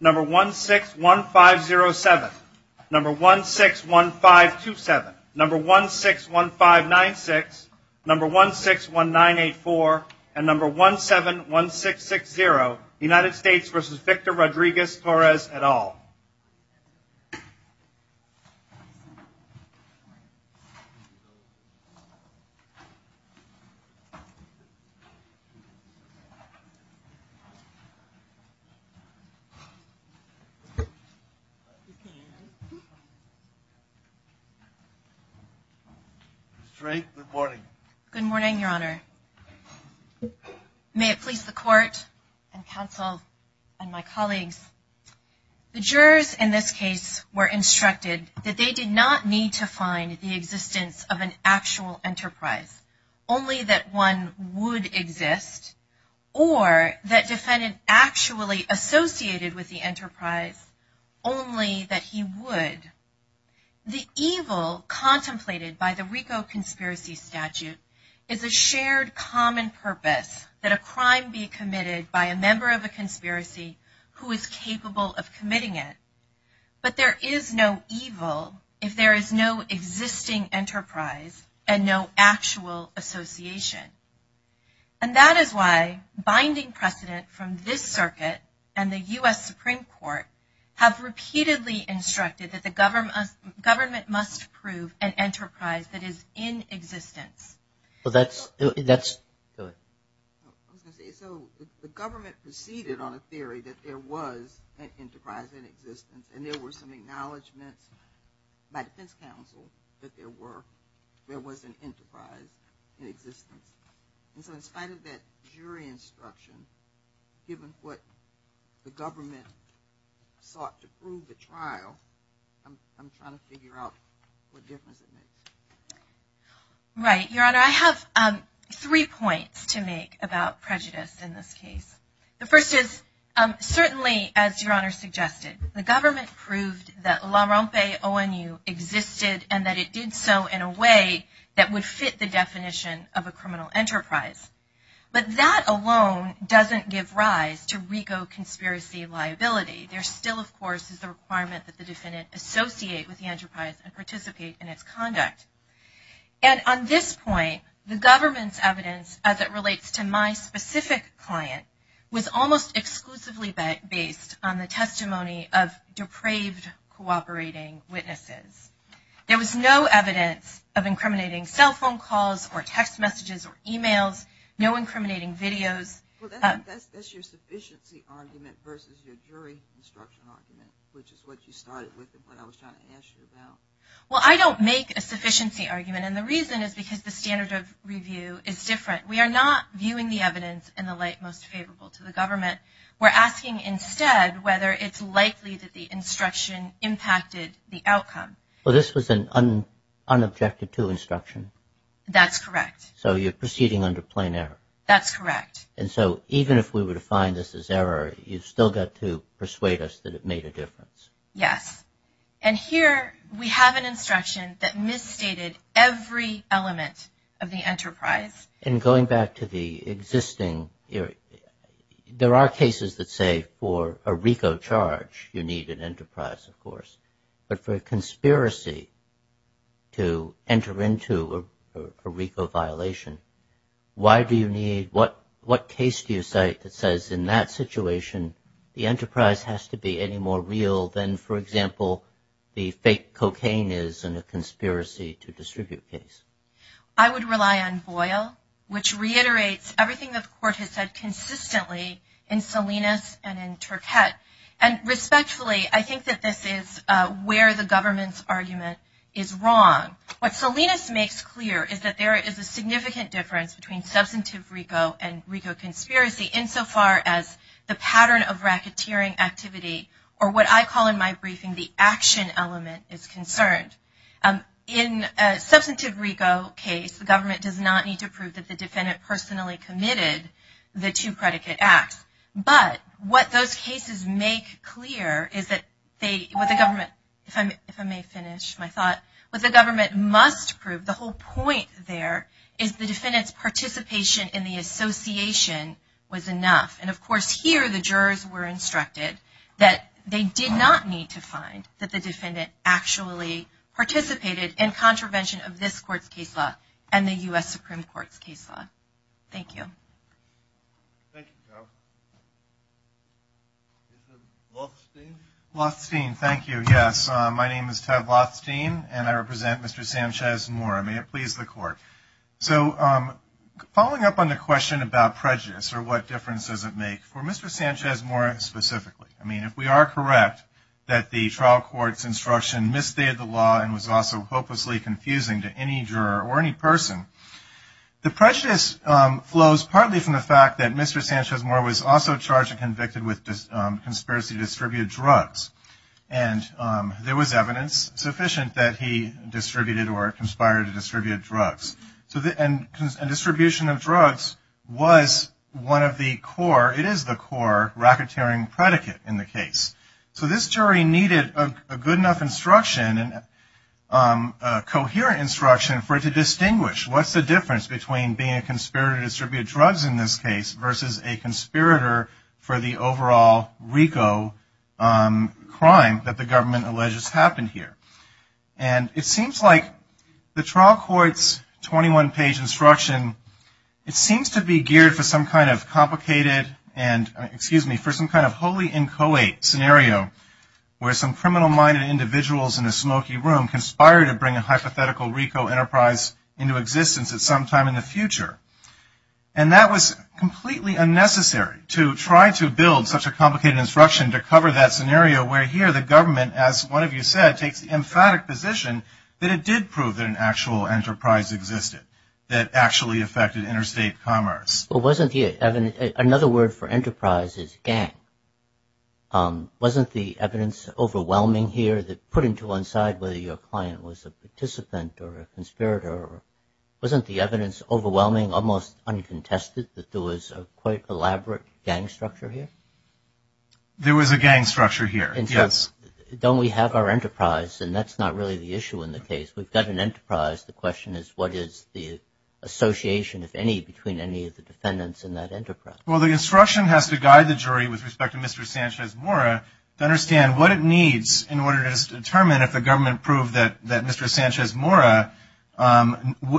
Number 161507, number 161527, number 161596, number 161984, and number 171660, United States v. Victor Rodriguez-Torres et al. May it please the court and counsel and my colleagues, the jurors in this case were instructed that they did not need to find the existence of an actual enterprise. Only that one would exist or that defendant actually associated with the enterprise, only that he would. The evil contemplated by the RICO conspiracy statute is a shared common purpose that a crime be committed by a member of a conspiracy who is capable of committing it. But there is no evil if there is no existing enterprise and no actual association. And that is why binding precedent from this circuit and the U.S. Supreme Court have repeatedly instructed that the government must prove an enterprise that is in existence. So the government proceeded on a theory that there was an enterprise in existence and there were some acknowledgments by defense counsel that there was an enterprise in existence. And so in spite of that jury instruction, given what the government sought to prove at trial, I'm trying to figure out what difference it makes. Right, Your Honor, I have three points to make about prejudice in this case. The first is, certainly as Your Honor suggested, the government proved that La Rompe ONU existed and that it did so in a way that would fit the definition of a criminal enterprise. But that alone doesn't give rise to RICO conspiracy liability. There still, of course, is the requirement that the defendant associate with the enterprise and participate in its conduct. And on this point, the government's evidence as it relates to my specific client was almost exclusively based on the testimony of depraved cooperating witnesses. There was no evidence of incriminating cell phone calls or text messages or emails, no incriminating videos. Well, that's your sufficiency argument versus your jury instruction argument, which is what you started with and what I was trying to ask you about. Well, I don't make a sufficiency argument. And the reason is because the standard of review is different. We are not viewing the evidence in the light most favorable to the government. We're asking instead whether it's likely that the instruction impacted the outcome. Well, this was an unobjected to instruction. That's correct. So you're proceeding under plain error. That's correct. And so even if we were to find this as error, you've still got to persuade us that it made a difference. Yes. And here we have an instruction that misstated every element of the enterprise. And going back to the existing, there are cases that say for a RICO charge, you need an enterprise, of course. But for a conspiracy to enter into a RICO violation, why do you need, what case do you cite that says in that situation, the enterprise has to be any more real than, for example, the fake cocaine is in a conspiracy to distribute case? I would rely on Boyle, which reiterates everything that the court has said consistently in Salinas and in Turquette. And respectfully, I think that this is where the government's argument is wrong. What Salinas makes clear is that there is a significant difference between substantive RICO and RICO conspiracy insofar as the pattern of racketeering activity or what I call in my briefing the action element is concerned. In a substantive RICO case, the government does not need to prove that the defendant personally committed the two predicate acts. But what those cases make clear is that they, what the government, if I may finish my thought, what the government must prove, the whole point there is the defendant's participation in the association was enough. And of course, here the jurors were instructed that they did not need to find that the defendant actually participated in contravention of this court's case law and the U.S. Supreme Court's case law. Thank you. Thank you, Ted. This is Lothstein. Lothstein, thank you. Yes, my name is Ted Lothstein, and I represent Mr. Sanchez-Moore. May it please the court. So following up on the question about prejudice or what difference does it make for Mr. Sanchez-Moore specifically, I mean, if we are correct that the trial court's instruction misstated the law and was also hopelessly confusing to any juror or any person, the prejudice flows partly from the fact that Mr. Sanchez-Moore was also charged and convicted with conspiracy to distribute drugs. And there was evidence sufficient that he distributed or conspired to distribute drugs. And distribution of drugs was one of the core, it is the core racketeering predicate in the case. So this jury needed a good enough instruction, a coherent instruction for it to distinguish what's the difference between being a conspirator to distribute drugs in this case versus a conspirator for the overall RICO crime that the government alleges happened here. And it seems like the trial court's 21-page instruction, it seems to be geared for some kind of complicated and, excuse me, for some kind of wholly inchoate scenario where some criminal-minded individuals in a smoky room conspire to bring a hypothetical RICO enterprise into existence at some time in the future. And that was completely unnecessary to try to build such a complicated instruction to cover that scenario where here the government, as one of you said, takes the emphatic position that it did prove that an actual enterprise existed that actually affected interstate commerce. Well, wasn't the evidence, another word for enterprise is gang. Wasn't the evidence overwhelming here, put into one side whether your client was a participant or a conspirator? Wasn't the evidence overwhelming, almost uncontested, that there was a quite elaborate gang structure here? There was a gang structure here, yes. Don't we have our enterprise? And that's not really the issue in the case. We've got an enterprise. The question is what is the association, if any, between any of the defendants in that enterprise? Well, the instruction has to guide the jury with respect to Mr. Sanchez-Mora to understand what it needs in order to determine if the government proved that Mr. Sanchez-Mora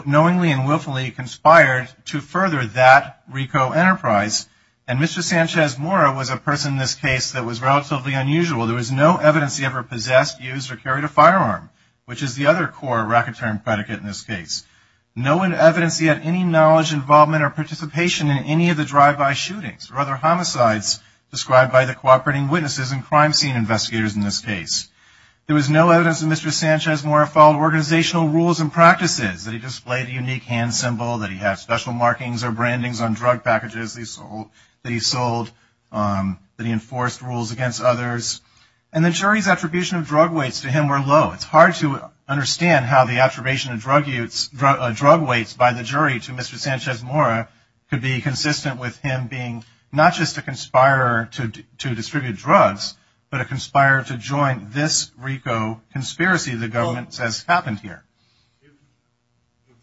knowingly and willfully conspired to further that RICO enterprise. And Mr. Sanchez-Mora was a person in this case that was relatively unusual. There was no evidence he ever possessed, used, or carried a firearm, which is the other core racketeering predicate in this case. No evidence he had any knowledge, involvement, or participation in any of the drive-by shootings or other homicides described by the cooperating witnesses and crime scene investigators in this case. There was no evidence that Mr. Sanchez-Mora followed organizational rules and practices, that he displayed a unique hand symbol, that he had special markings or brandings on drug packages that he sold, that he enforced rules against others. And the jury's attribution of drug weights to him were low. It's hard to understand how the attribution of drug weights by the jury to Mr. Sanchez-Mora could be consistent with him being not just a conspirator to distribute drugs, but a conspirator to join this RICO conspiracy the government says happened here. If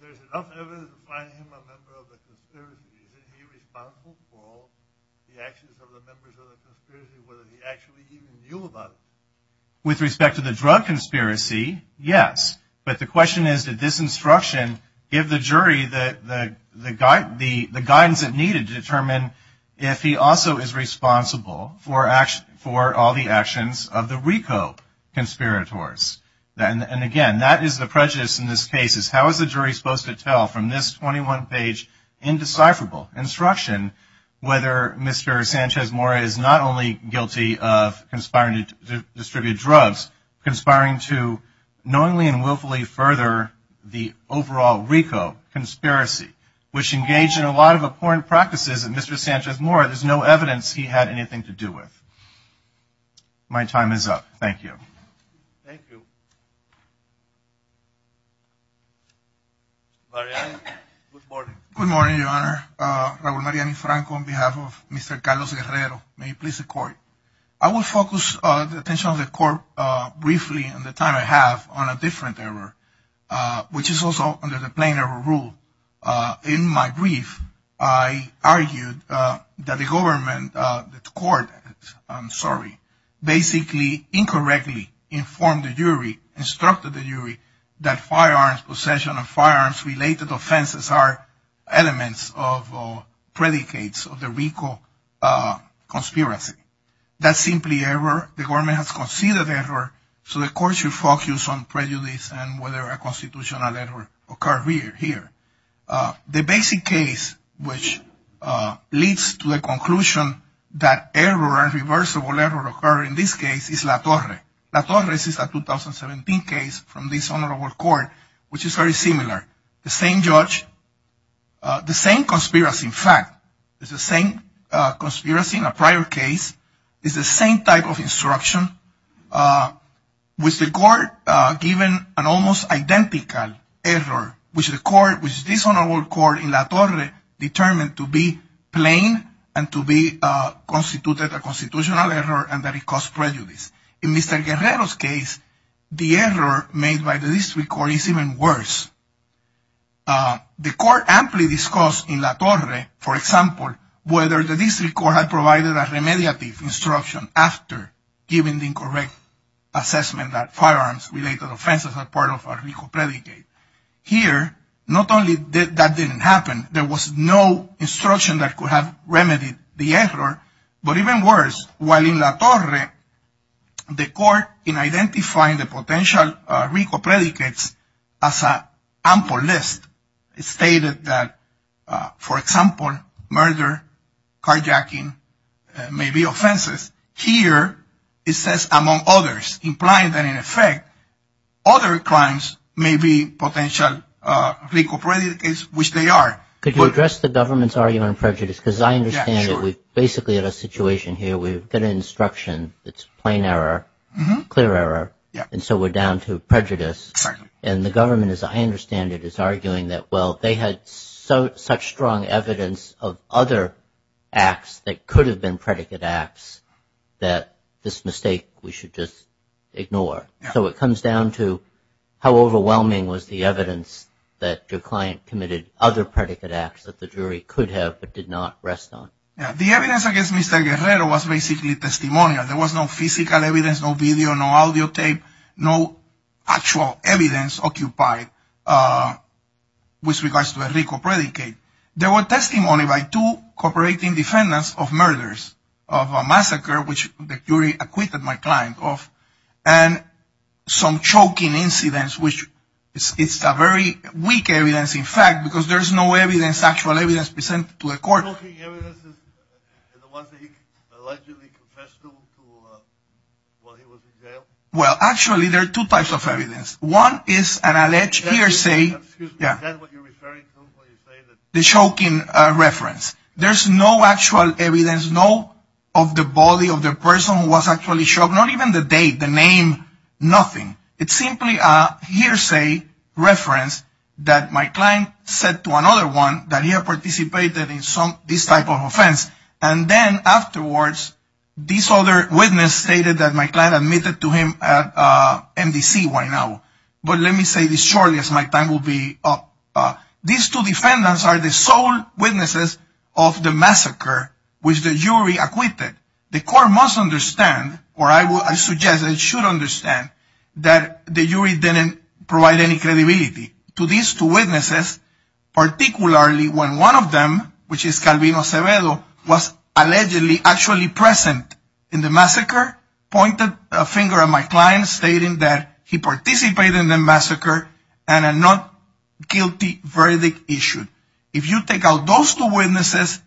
there's enough evidence to find him a member of the conspiracy, is he responsible for the actions of the members of the conspiracy, whether he actually even knew about it? With respect to the drug conspiracy, yes. But the question is, did this instruction give the jury the guidance it needed to determine if he also is responsible for all the actions of the RICO conspirators? And, again, that is the prejudice in this case, is how is the jury supposed to tell from this 21-page indecipherable instruction whether Mr. Sanchez-Mora is not only guilty of conspiring to distribute drugs, conspiring to knowingly and willfully further the overall RICO conspiracy, which engaged in a lot of abhorrent practices, and Mr. Sanchez-Mora, there's no evidence he had anything to do with. My time is up. Thank you. Thank you. Mariano, good morning. Good morning, Your Honor. Raul Mariano Franco on behalf of Mr. Carlos Guerrero. May he please the Court. I will focus the attention of the Court briefly and the time I have on a different error, which is also under the plain error rule. In my brief, I argued that the government, the Court, I'm sorry, basically incorrectly informed the jury, instructed the jury, that firearms possession and firearms-related offenses are elements of predicates of the RICO conspiracy. That's simply error. The government has conceded error, so the Court should focus on prejudice and whether a constitutional error occurred here. The basic case which leads to the conclusion that error, irreversible error, occurred in this case is La Torre. La Torre is a 2017 case from this Honorable Court, which is very similar. The same judge, the same conspiracy, in fact. It's the same conspiracy in a prior case. It's the same type of instruction, with the Court given an almost identical error, which this Honorable Court in La Torre determined to be plain and to be constituted a constitutional error and that it caused prejudice. In Mr. Guerrero's case, the error made by the District Court is even worse. The Court amply discussed in La Torre, for example, whether the District Court had provided a remediative instruction after giving the incorrect assessment that firearms-related offenses are part of a RICO predicate. Here, not only that didn't happen, there was no instruction that could have remedied the error, but even worse, while in La Torre, the Court, in identifying the potential RICO predicates as an ample list, stated that, for example, murder, carjacking may be offenses. Here, it says, among others, implying that, in effect, other crimes may be potential RICO predicates, which they are. Could you address the government's argument on prejudice? Because I understand that we're basically in a situation here where we've got an instruction that's plain error, clear error, and so we're down to prejudice. And the government, as I understand it, is arguing that, well, they had such strong evidence of other acts that could have been predicate acts that this mistake we should just ignore. So it comes down to how overwhelming was the evidence that your client committed other predicate acts that the jury could have but did not rest on. The evidence against Mr. Guerrero was basically testimonial. There was no physical evidence, no video, no audio tape, no actual evidence occupied with regards to a RICO predicate. There was testimony by two cooperating defendants of murders, of a massacre, which the jury acquitted my client of, and some choking incidents, which is a very weak evidence, in fact, because there's no evidence, actual evidence, presented to the court. The choking evidence is the ones that he allegedly confessed to while he was in jail? Well, actually, there are two types of evidence. One is an alleged hearsay. Excuse me. Is that what you're referring to when you say that? The choking reference. There's no actual evidence, no, of the body of the person who was actually choked, not even the date, the name, nothing. It's simply a hearsay reference that my client said to another one that he had participated in some, this type of offense, and then afterwards, this other witness stated that my client admitted to him at MDC right now. But let me say this shortly as my time will be up. These two defendants are the sole witnesses of the massacre, which the jury acquitted. The court must understand, or I suggest it should understand, that the jury didn't provide any credibility to these two witnesses, particularly when one of them, which is Calvino Acevedo, was allegedly actually present in the massacre, pointed a finger at my client, stating that he participated in the massacre and a not guilty verdict issued. If you take out those two witnesses,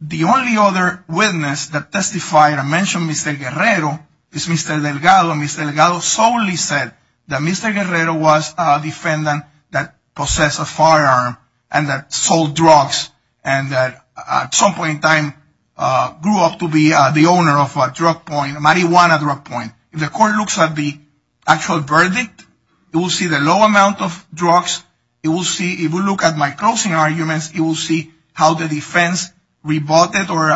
the only other witness that testified and mentioned Mr. Guerrero is Mr. Delgado. Mr. Delgado solely said that Mr. Guerrero was a defendant that possessed a firearm and that sold drugs and that at some point in time grew up to be the owner of a drug point, a marijuana drug point. If the court looks at the actual verdict, it will see the low amount of drugs. It will look at my closing arguments. It will see how the defense rebutted or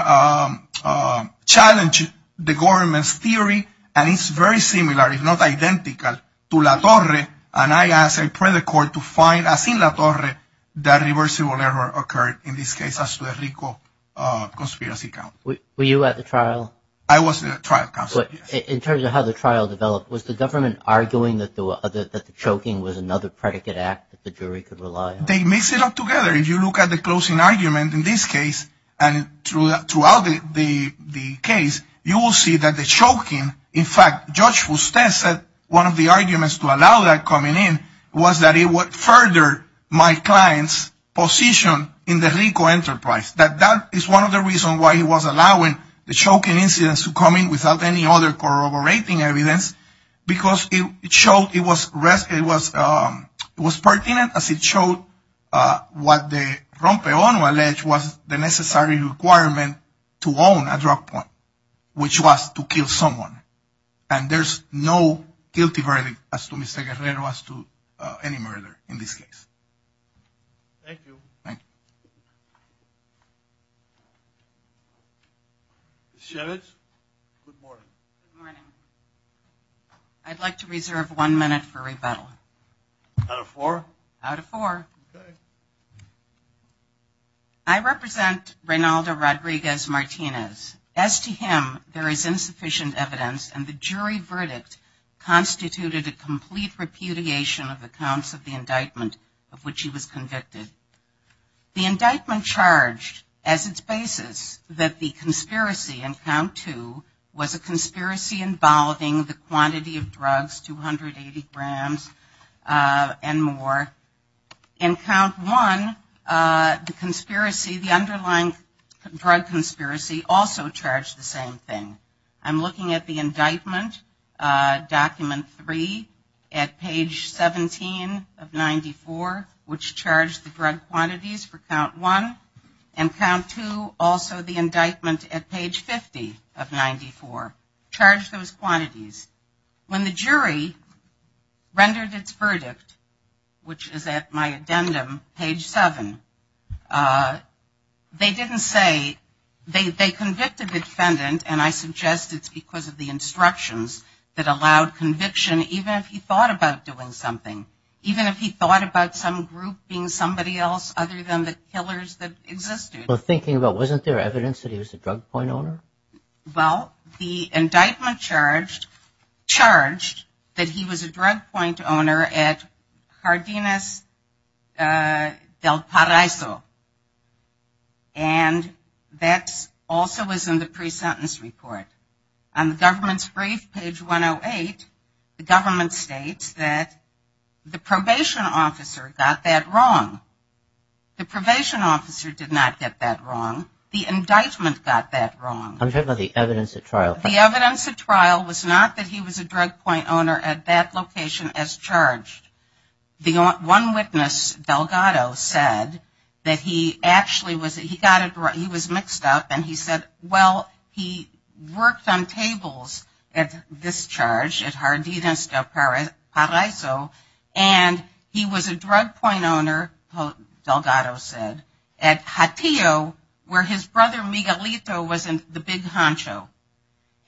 challenged the government's theory, and it's very similar, if not identical, to La Torre, and I ask and pray the court to find, as in La Torre, that reversible error occurred, in this case, as to the Rico conspiracy count. Were you at the trial? I was at the trial, counsel. In terms of how the trial developed, was the government arguing that the choking was another predicate act that the jury could rely on? They mix it up together. If you look at the closing argument in this case and throughout the case, you will see that the choking, in fact, Judge Fustes said one of the arguments to allow that coming in was that it would further my client's position in the Rico enterprise, that that is one of the reasons why he was allowing the choking incidents to come in without any other corroborating evidence, because it was pertinent, as it showed what the rompeón alleged was the necessary requirement to own a drug point, which was to kill someone, and there's no guilty verdict as to Mr. Guerrero, as to any murder in this case. Thank you. Thank you. Ms. Shevitz, good morning. Good morning. I'd like to reserve one minute for rebuttal. Out of four? Out of four. Okay. I represent Reynaldo Rodriguez-Martinez. As to him, there is insufficient evidence, and the jury verdict constituted a complete repudiation of the counts of the indictment of which he was convicted. The indictment charged as its basis that the conspiracy in count two was a conspiracy involving the quantity of drugs, 280 grams and more. In count one, the conspiracy, the underlying drug conspiracy also charged the same thing. I'm looking at the indictment, document three, at page 17 of 94, which charged the drug quantities for count one, and count two, also the indictment at page 50 of 94, charged those quantities. When the jury rendered its verdict, which is at my addendum, page seven, they didn't say, they convicted the defendant, and I suggest it's because of the instructions that allowed conviction, even if he thought about doing something. Even if he thought about some group being somebody else other than the killers that existed. Well, thinking about it, wasn't there evidence that he was a drug point owner? Well, the indictment charged that he was a drug point owner at Cardenas del Paraiso, and that also is in the pre-sentence report. On the government's brief, page 108, the government states that the probation officer got that wrong. The probation officer did not get that wrong. The indictment got that wrong. I'm talking about the evidence at trial. The evidence at trial was not that he was a drug point owner at that location as charged. One witness, Delgado, said that he actually was, he got it, he was mixed up, and he said, well, he worked on tables at this charge, at Cardenas del Paraiso, and he was a drug point owner, Delgado said, at Hatio, where his brother Miguelito was in the big honcho.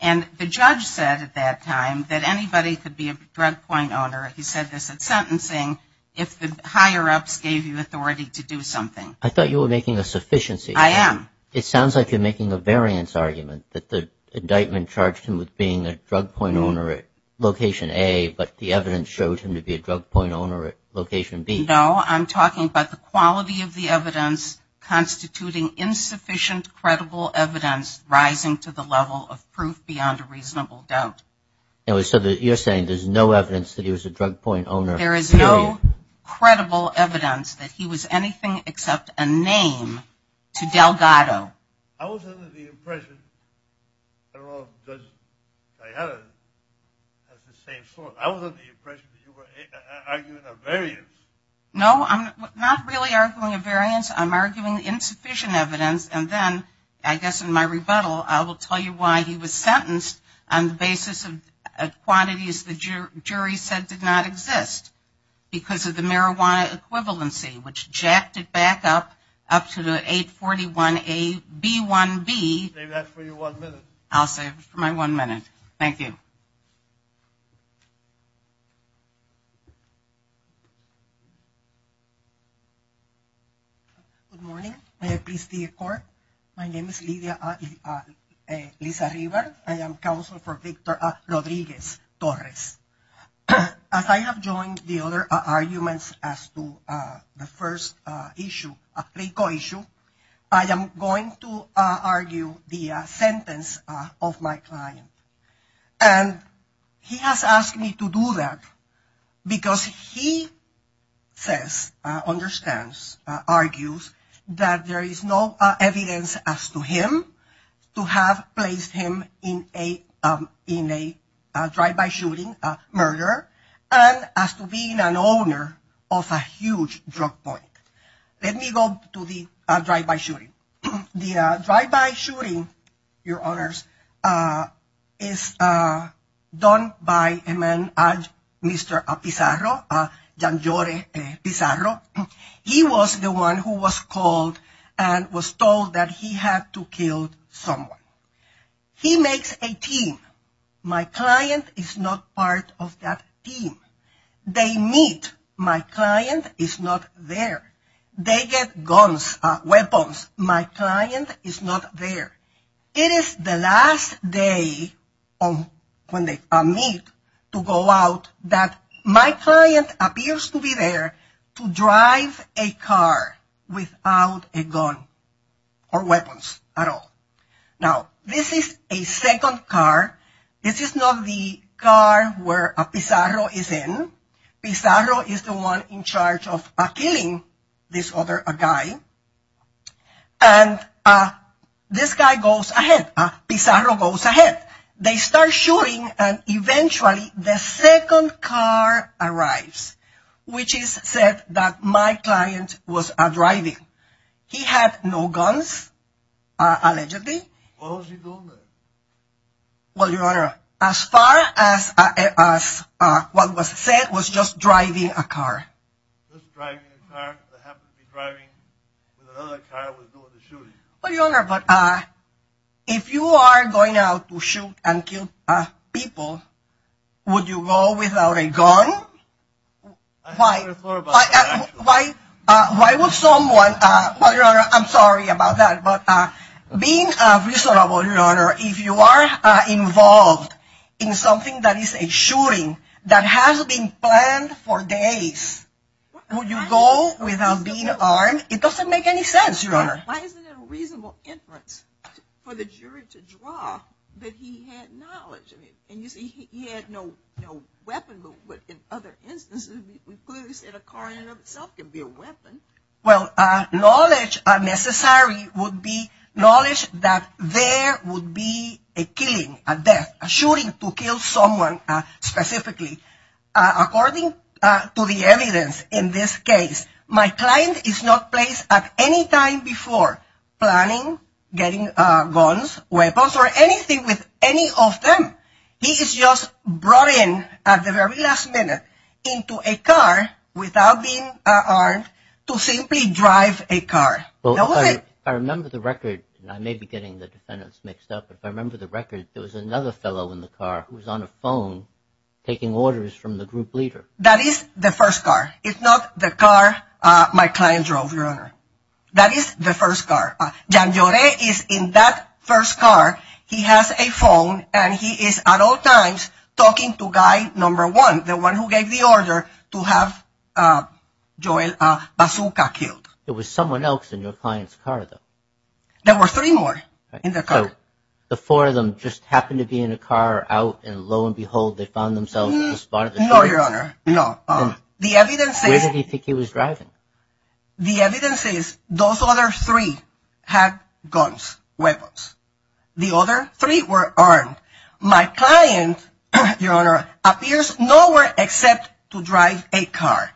And the judge said at that time that anybody could be a drug point owner. He said this at sentencing, if the higher-ups gave you authority to do something. I thought you were making a sufficiency. I am. It sounds like you're making a variance argument, that the indictment charged him with being a drug point owner at location A, but the evidence showed him to be a drug point owner at location B. No, I'm talking about the quality of the evidence, constituting insufficient credible evidence rising to the level of proof beyond a reasonable doubt. So you're saying there's no evidence that he was a drug point owner. There is no credible evidence that he was anything except a name to Delgado. I was under the impression that you were arguing a variance. No, I'm not really arguing a variance. I'm arguing insufficient evidence, and then I guess in my rebuttal, I will tell you why he was sentenced on the basis of quantities the jury said did not exist, because of the marijuana equivalency, which jacked it back up to the 841A, B1B. I'll save that for your one minute. I'll save it for my one minute. Thank you. Good morning. May I please see your court? My name is Liza River. I am counsel for Victor Rodriguez-Torres. As I have joined the other arguments as to the first issue, a FICO issue, I am going to argue the sentence of my client. And he has asked me to do that because he says, understands, argues, that there is no evidence as to him to have placed him in a drive-by shooting murder and as to being an owner of a huge drug point. Let me go to the drive-by shooting. The drive-by shooting, Your Honors, is done by a man, Mr. Pizarro, Janjore Pizarro. He was the one who was called and was told that he had to kill someone. He makes a team. My client is not part of that team. They meet. My client is not there. They get guns, weapons. My client is not there. It is the last day when they meet to go out that my client appears to be there to drive a car without a gun or weapons at all. Now, this is a second car. This is not the car where Pizarro is in. Pizarro is the one in charge of killing this other guy. And this guy goes ahead. Pizarro goes ahead. They start shooting, and eventually the second car arrives, which is said that my client was driving. He had no guns, allegedly. Why was he doing that? Well, Your Honor, as far as what was said was just driving a car. Well, Your Honor, but if you are going out to shoot and kill people, would you go without a gun? I never thought about that, actually. Why would someone, well, Your Honor, I'm sorry about that, but being reasonable, Your Honor, if you are involved in something that is a shooting that has been planned for days, would you go without being armed? It doesn't make any sense, Your Honor. Why isn't it a reasonable inference for the jury to draw that he had knowledge? I mean, you see, he had no weapon, but in other instances, we could have said a car in and of itself could be a weapon. Well, knowledge necessary would be knowledge that there would be a killing, a death, a shooting to kill someone specifically. According to the evidence in this case, my client is not placed at any time before planning getting guns, weapons, or anything with any of them. He is just brought in at the very last minute into a car without being armed to simply drive a car. Well, if I remember the record, and I may be getting the defendants mixed up, but if I remember the record, there was another fellow in the car who was on a phone taking orders from the group leader. That is the first car. It's not the car my client drove, Your Honor. That is the first car. Jan Joret is in that first car. He has a phone, and he is at all times talking to guy number one, the one who gave the order to have Joel Bazooka killed. There was someone else in your client's car, though. There were three more in the car. So the four of them just happened to be in a car out, and lo and behold, they found themselves at the spot of the shooting? No, Your Honor, no. Where did he think he was driving? The evidence is those other three had guns, weapons. The other three were armed. My client, Your Honor, appears nowhere except to drive a car.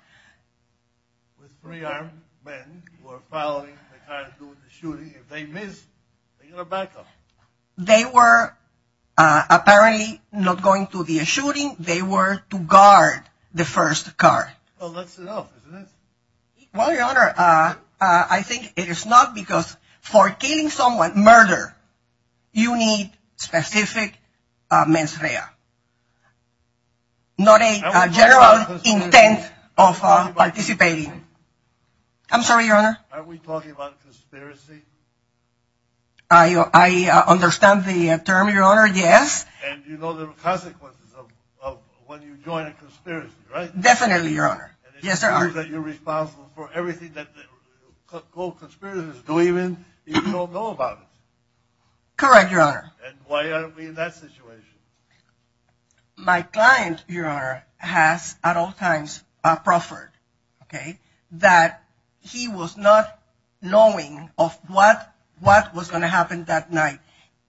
With three armed men who are following the car to do the shooting, if they miss, they get a backup. They were apparently not going to do the shooting. They were to guard the first car. Well, that's enough, isn't it? Well, Your Honor, I think it is not because for killing someone, murder, you need specific mens rea, not a general intent of participating. I'm sorry, Your Honor. Are we talking about conspiracy? I understand the term, Your Honor, yes. And you know the consequences of when you join a conspiracy, right? Definitely, Your Honor. And it seems that you're responsible for everything that the conspirators believe in, even though you don't know about it. Correct, Your Honor. And why are we in that situation? My client, Your Honor, has at all times proffered, okay, that he was not knowing of what was going to happen that night.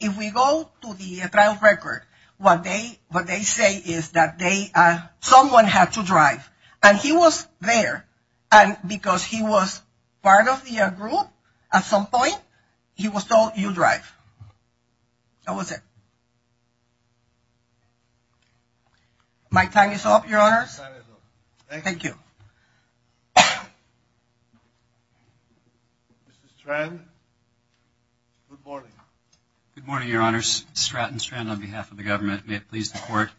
And if we go to the trial record, what they say is that someone had to drive. And he was there. And because he was part of the group at some point, he was told, you drive. That was it. My time is up, Your Honors. Your time is up. Thank you. Mr. Strand, good morning. Good morning, Your Honors. Stratton Strand on behalf of the government. May it please the Court.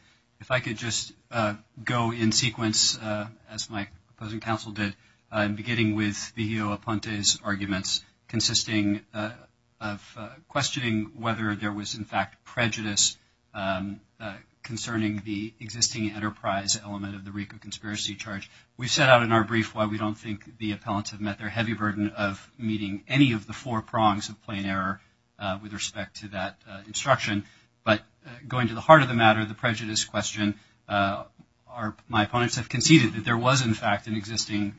If I could just go in sequence, as my opposing counsel did, beginning with Viglio Aponte's arguments consisting of questioning whether there was, in fact, prejudice concerning the existing enterprise element of the RICO conspiracy charge. We set out in our brief why we don't think the appellants have met their heavy burden of meeting any of the four prongs of plain error with respect to that instruction. But going to the heart of the matter, the prejudice question, my opponents have conceded that there was, in fact, an existing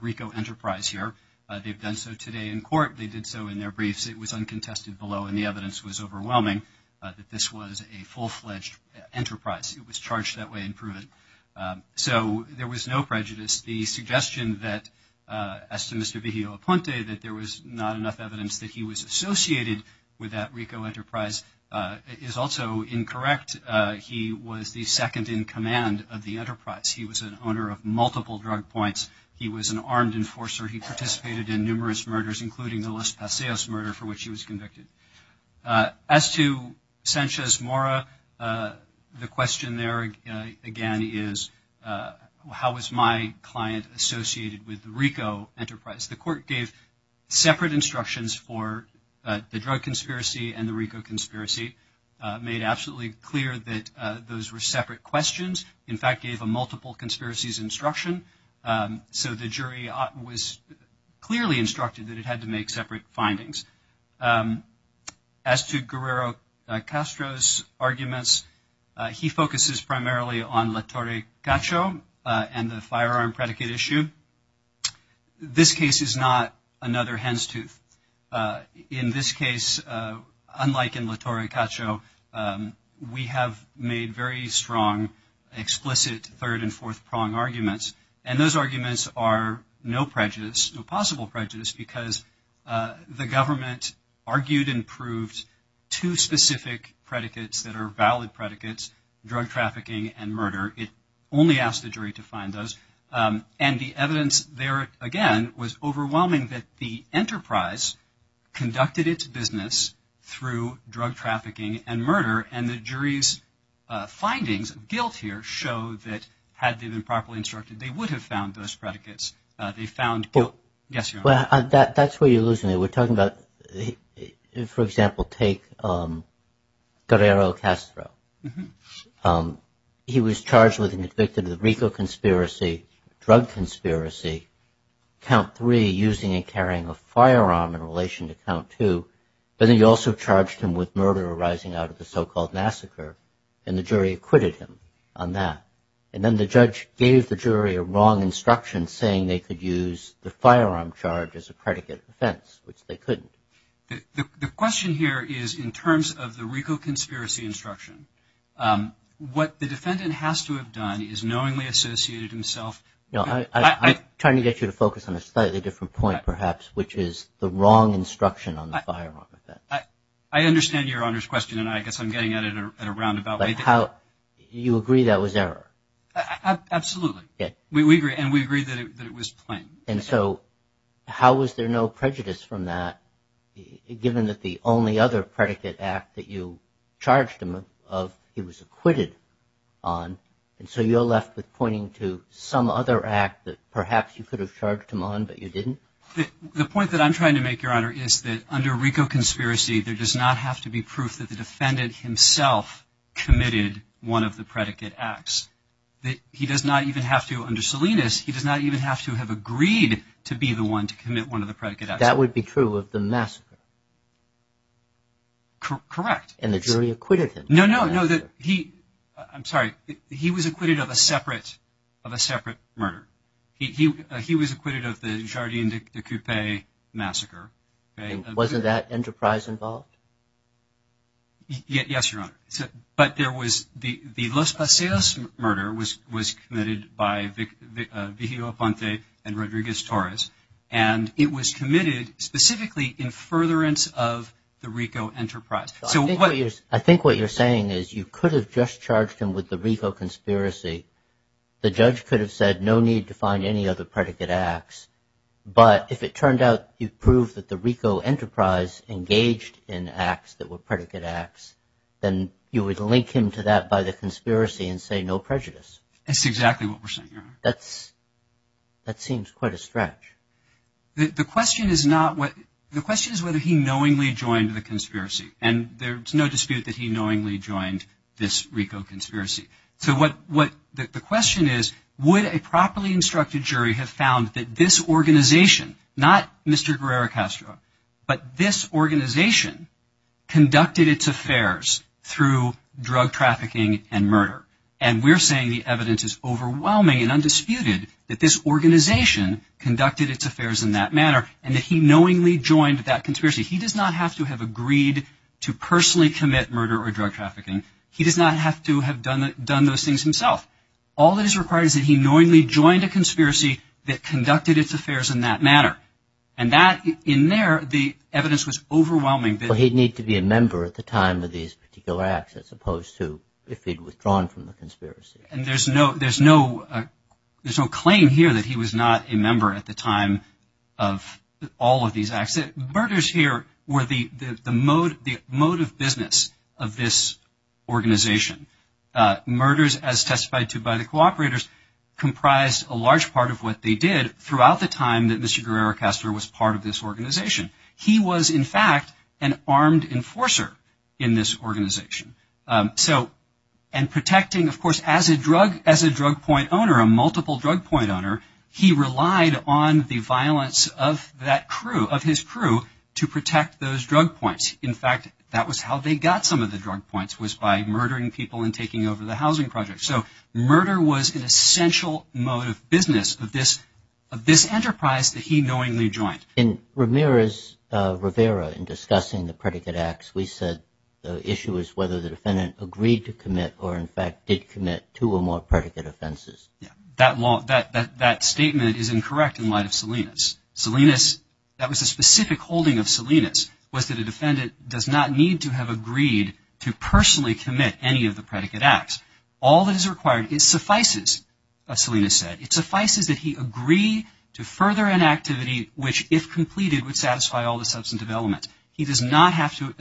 RICO enterprise here. They've done so today in court. They did so in their briefs. It was uncontested below, and the evidence was overwhelming. This was a full-fledged enterprise. It was charged that way and proven. So there was no prejudice. The suggestion that, as to Mr. Viglio Aponte, that there was not enough evidence that he was associated with that RICO enterprise is also incorrect. He was the second-in-command of the enterprise. He was an owner of multiple drug points. He was an armed enforcer. He participated in numerous murders, including the Los Paseos murder for which he was convicted. As to Sanchez Mora, the question there, again, is, how was my client associated with the RICO enterprise? The court gave separate instructions for the drug conspiracy and the RICO conspiracy, made absolutely clear that those were separate questions, in fact, gave a multiple conspiracies instruction. So the jury was clearly instructed that it had to make separate findings. As to Guerrero Castro's arguments, he focuses primarily on La Torre Cacho and the firearm predicate issue. This case is not another hen's tooth. In this case, unlike in La Torre Cacho, we have made very strong, explicit, third- and fourth-prong arguments, and those arguments are no prejudice, no possible prejudice, because the government argued and proved two specific predicates that are valid predicates, drug trafficking and murder. It only asked the jury to find those. And the evidence there, again, was overwhelming that the enterprise conducted its business through drug trafficking and murder, and the jury's findings, guilt here, showed that had they been properly instructed, they would have found those predicates. They found guilt. Yes, Your Honor. Well, that's where you're losing it. We're talking about, for example, take Guerrero Castro. He was charged with and convicted of the RICO conspiracy, drug conspiracy, count three, using and carrying a firearm in relation to count two, but then he also charged him with murder arising out of a so-called massacre, and the jury acquitted him on that. And then the judge gave the jury a wrong instruction, saying they could use the firearm charge as a predicate offense, which they couldn't. The question here is, in terms of the RICO conspiracy instruction, what the defendant has to have done is knowingly associated himself. I'm trying to get you to focus on a slightly different point, perhaps, which is the wrong instruction on the firearm. I understand Your Honor's question, and I guess I'm getting at it at a roundabout rate. You agree that was error? Absolutely. We agree, and we agree that it was plain. And so how was there no prejudice from that, given that the only other predicate act that you charged him of, he was acquitted on, and so you're left with pointing to some other act that perhaps you could have charged him on, but you didn't? The point that I'm trying to make, Your Honor, is that under RICO conspiracy, there does not have to be proof that the defendant himself committed one of the predicate acts. He does not even have to, under Salinas, he does not even have to have agreed to be the one to commit one of the predicate acts. That would be true of the massacre? Correct. And the jury acquitted him? No, no. I'm sorry. He was acquitted of a separate murder. He was acquitted of the Jardin de Coupe massacre. Wasn't that Enterprise involved? Yes, Your Honor. But the Los Paseos murder was committed by Vigilio Aponte and Rodriguez Torres, and it was committed specifically in furtherance of the RICO Enterprise. I think what you're saying is you could have just charged him with the RICO conspiracy. The judge could have said no need to find any other predicate acts, but if it turned out you proved that the RICO Enterprise engaged in acts that were predicate acts, then you would link him to that by the conspiracy and say no prejudice. That's exactly what we're saying, Your Honor. That seems quite a stretch. The question is whether he knowingly joined the conspiracy, and there's no dispute that he knowingly joined this RICO conspiracy. So the question is would a properly instructed jury have found that this organization, not Mr. Guerrero Castro, but this organization conducted its affairs through drug trafficking and murder? And we're saying the evidence is overwhelming and undisputed that this organization conducted its affairs in that manner and that he knowingly joined that conspiracy. He does not have to have agreed to personally commit murder or drug trafficking. He does not have to have done those things himself. All that is required is that he knowingly joined a conspiracy that conducted its affairs in that manner. And that, in there, the evidence was overwhelming. But he'd need to be a member at the time of these particular acts as opposed to if he'd withdrawn from the conspiracy. And there's no claim here that he was not a member at the time of all of these acts. The murders here were the mode of business of this organization. Murders, as testified to by the cooperators, comprised a large part of what they did throughout the time that Mr. Guerrero Castro was part of this organization. He was, in fact, an armed enforcer in this organization. So and protecting, of course, as a drug point owner, a multiple drug point owner, he relied on the violence of that crew, of his crew, to protect those drug points. In fact, that was how they got some of the drug points was by murdering people and taking over the housing project. So murder was an essential mode of business of this enterprise that he knowingly joined. In Ramirez-Rivera, in discussing the predicate acts, we said the issue is whether the defendant agreed to commit or, in fact, did commit two or more predicate offenses. That statement is incorrect in light of Salinas. Salinas, that was a specific holding of Salinas, was that a defendant does not need to have agreed to personally commit any of the predicate acts. All that is required, it suffices, as Salinas said, it suffices that he agree to further an activity which, if completed, would satisfy all the substantive elements. He does not have to,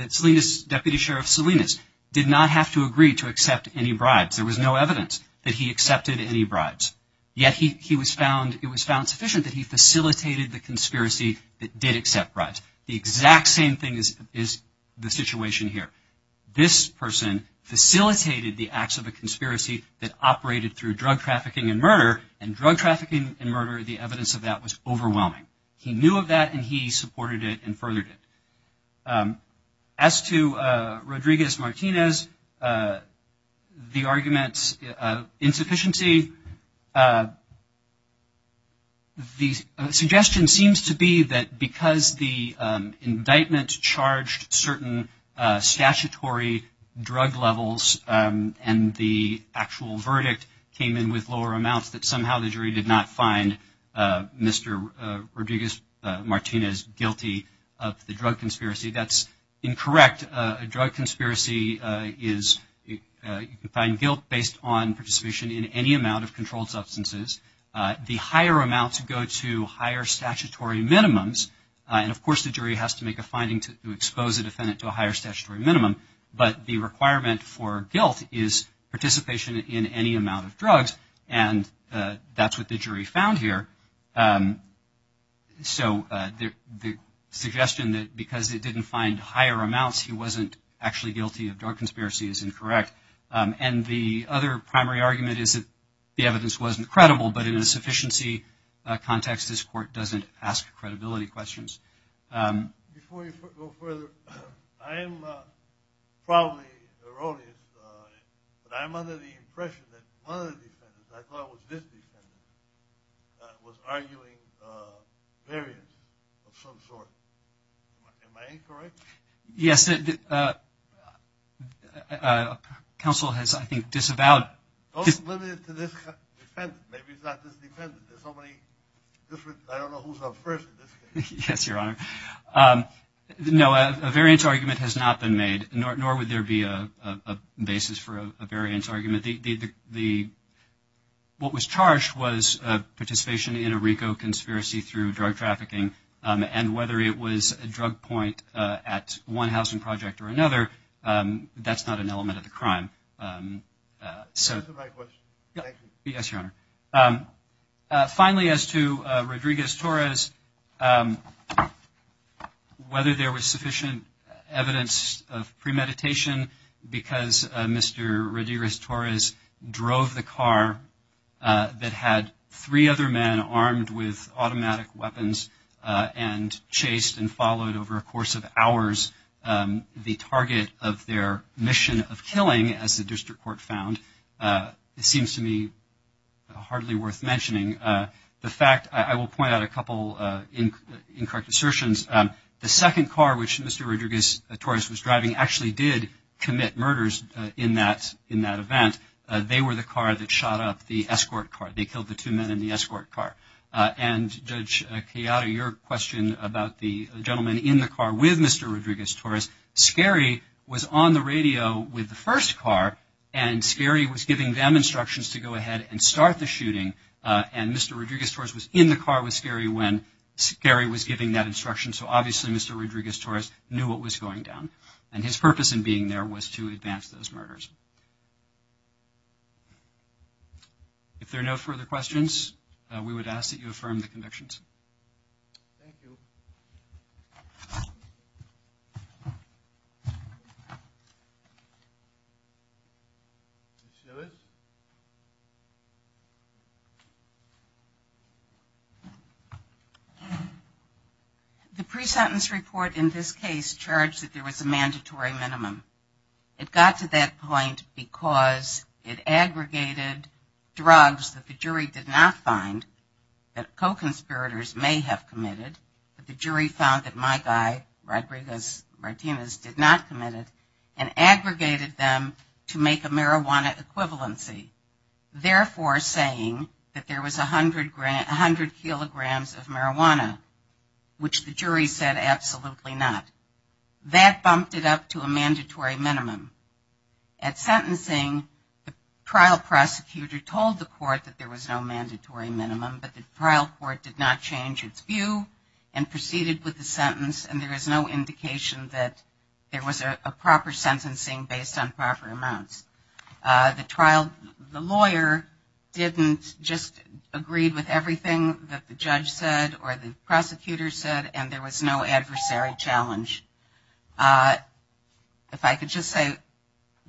Deputy Sheriff Salinas, did not have to agree to accept any bribes. There was no evidence that he accepted any bribes. Yet he was found, it was found sufficient that he facilitated the conspiracy that did accept bribes. The exact same thing is the situation here. This person facilitated the acts of a conspiracy that operated through drug trafficking and murder, and drug trafficking and murder, the evidence of that was overwhelming. He knew of that and he supported it and furthered it. As to Rodriguez-Martinez, the arguments of insufficiency, the suggestion seems to be that because the indictment charged certain statutory drug levels and the actual verdict came in with lower amounts, that somehow the jury did not find Mr. Rodriguez-Martinez guilty of the drug conspiracy. That's incorrect. A drug conspiracy is, you can find guilt based on participation in any amount of controlled substances. The higher amounts go to higher statutory minimums. And, of course, the jury has to make a finding to expose a defendant to a higher statutory minimum. But the requirement for guilt is participation in any amount of drugs. And that's what the jury found here. So the suggestion that because it didn't find higher amounts, he wasn't actually guilty of drug conspiracy is incorrect. And the other primary argument is that the evidence wasn't credible, but in an insufficiency context, this court doesn't ask credibility questions. Before you go further, I am probably erroneous, but I'm under the impression that one of the defendants, I thought it was this defendant, was arguing variance of some sort. Am I incorrect? Yes. Counsel has, I think, disavowed... Those limited to this defendant. Maybe it's not this defendant. There's so many different... I don't know who's up first in this case. Yes, Your Honor. No, a variance argument has not been made, nor would there be a basis for a variance argument. What was charged was participation in a RICO conspiracy through drug trafficking. And whether it was a drug point at one housing project or another, that's not an element of the crime. Is that the right question? Yes, Your Honor. Finally, as to Rodriguez-Torres, whether there was sufficient evidence of premeditation, because Mr. Rodriguez-Torres drove the car that had three other men armed with automatic weapons and chased and followed over a course of hours the target of their mission of killing, as the district court found, seems to me hardly worth mentioning. The fact, I will point out a couple incorrect assertions. The second car, which Mr. Rodriguez-Torres was driving, actually did commit murders in that event. They were the car that shot up the escort car. They killed the two men in the escort car. And, Judge Chiara, your question about the gentleman in the car with Mr. Rodriguez-Torres, Scary was on the radio with the first car, and Scary was giving them instructions to go ahead and start the shooting. And Mr. Rodriguez-Torres was in the car with Scary when Scary was giving that instruction. So, obviously, Mr. Rodriguez-Torres knew what was going down. And his purpose in being there was to advance those murders. If there are no further questions, we would ask that you affirm the convictions. Thank you. Ms. Lewis? The pre-sentence report in this case charged that there was a mandatory minimum. It got to that point because it aggregated drugs that the jury did not find, that co-conspirators may have committed, but the jury found that my guy, Rodriguez-Martinez, did not commit it, and aggregated them to make a marijuana equivalency. Therefore saying that there was 100 kilograms of marijuana, which the jury said absolutely not. That bumped it up to a mandatory minimum. At sentencing, the trial prosecutor told the court that there was no mandatory minimum, but the trial court did not change its view and proceeded with the sentence, and there is no indication that there was a proper sentencing based on proper amounts. The trial, the lawyer didn't just agree with everything that the judge said or the prosecutor said, and there was no adversary challenge. If I could just say,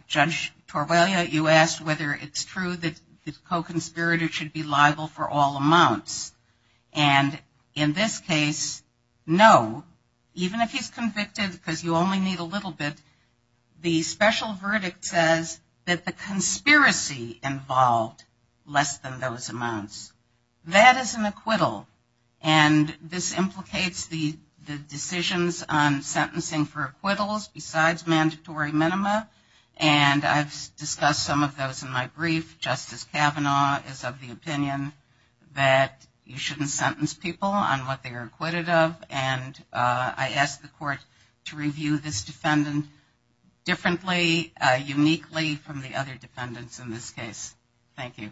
Judge Torbellia, you asked whether it's true that the co-conspirator should be liable for all amounts. And in this case, no. Even if he's convicted, because you only need a little bit, the special verdict says that the conspiracy involved less than those amounts. That is an acquittal, and this implicates the decisions on sentencing for acquittals besides mandatory minima, and I've discussed some of those in my brief. Justice Kavanaugh is of the opinion that you shouldn't sentence people on what they are acquitted of, and I ask the court to review this defendant differently, uniquely, from the other defendants in this case. Thank you.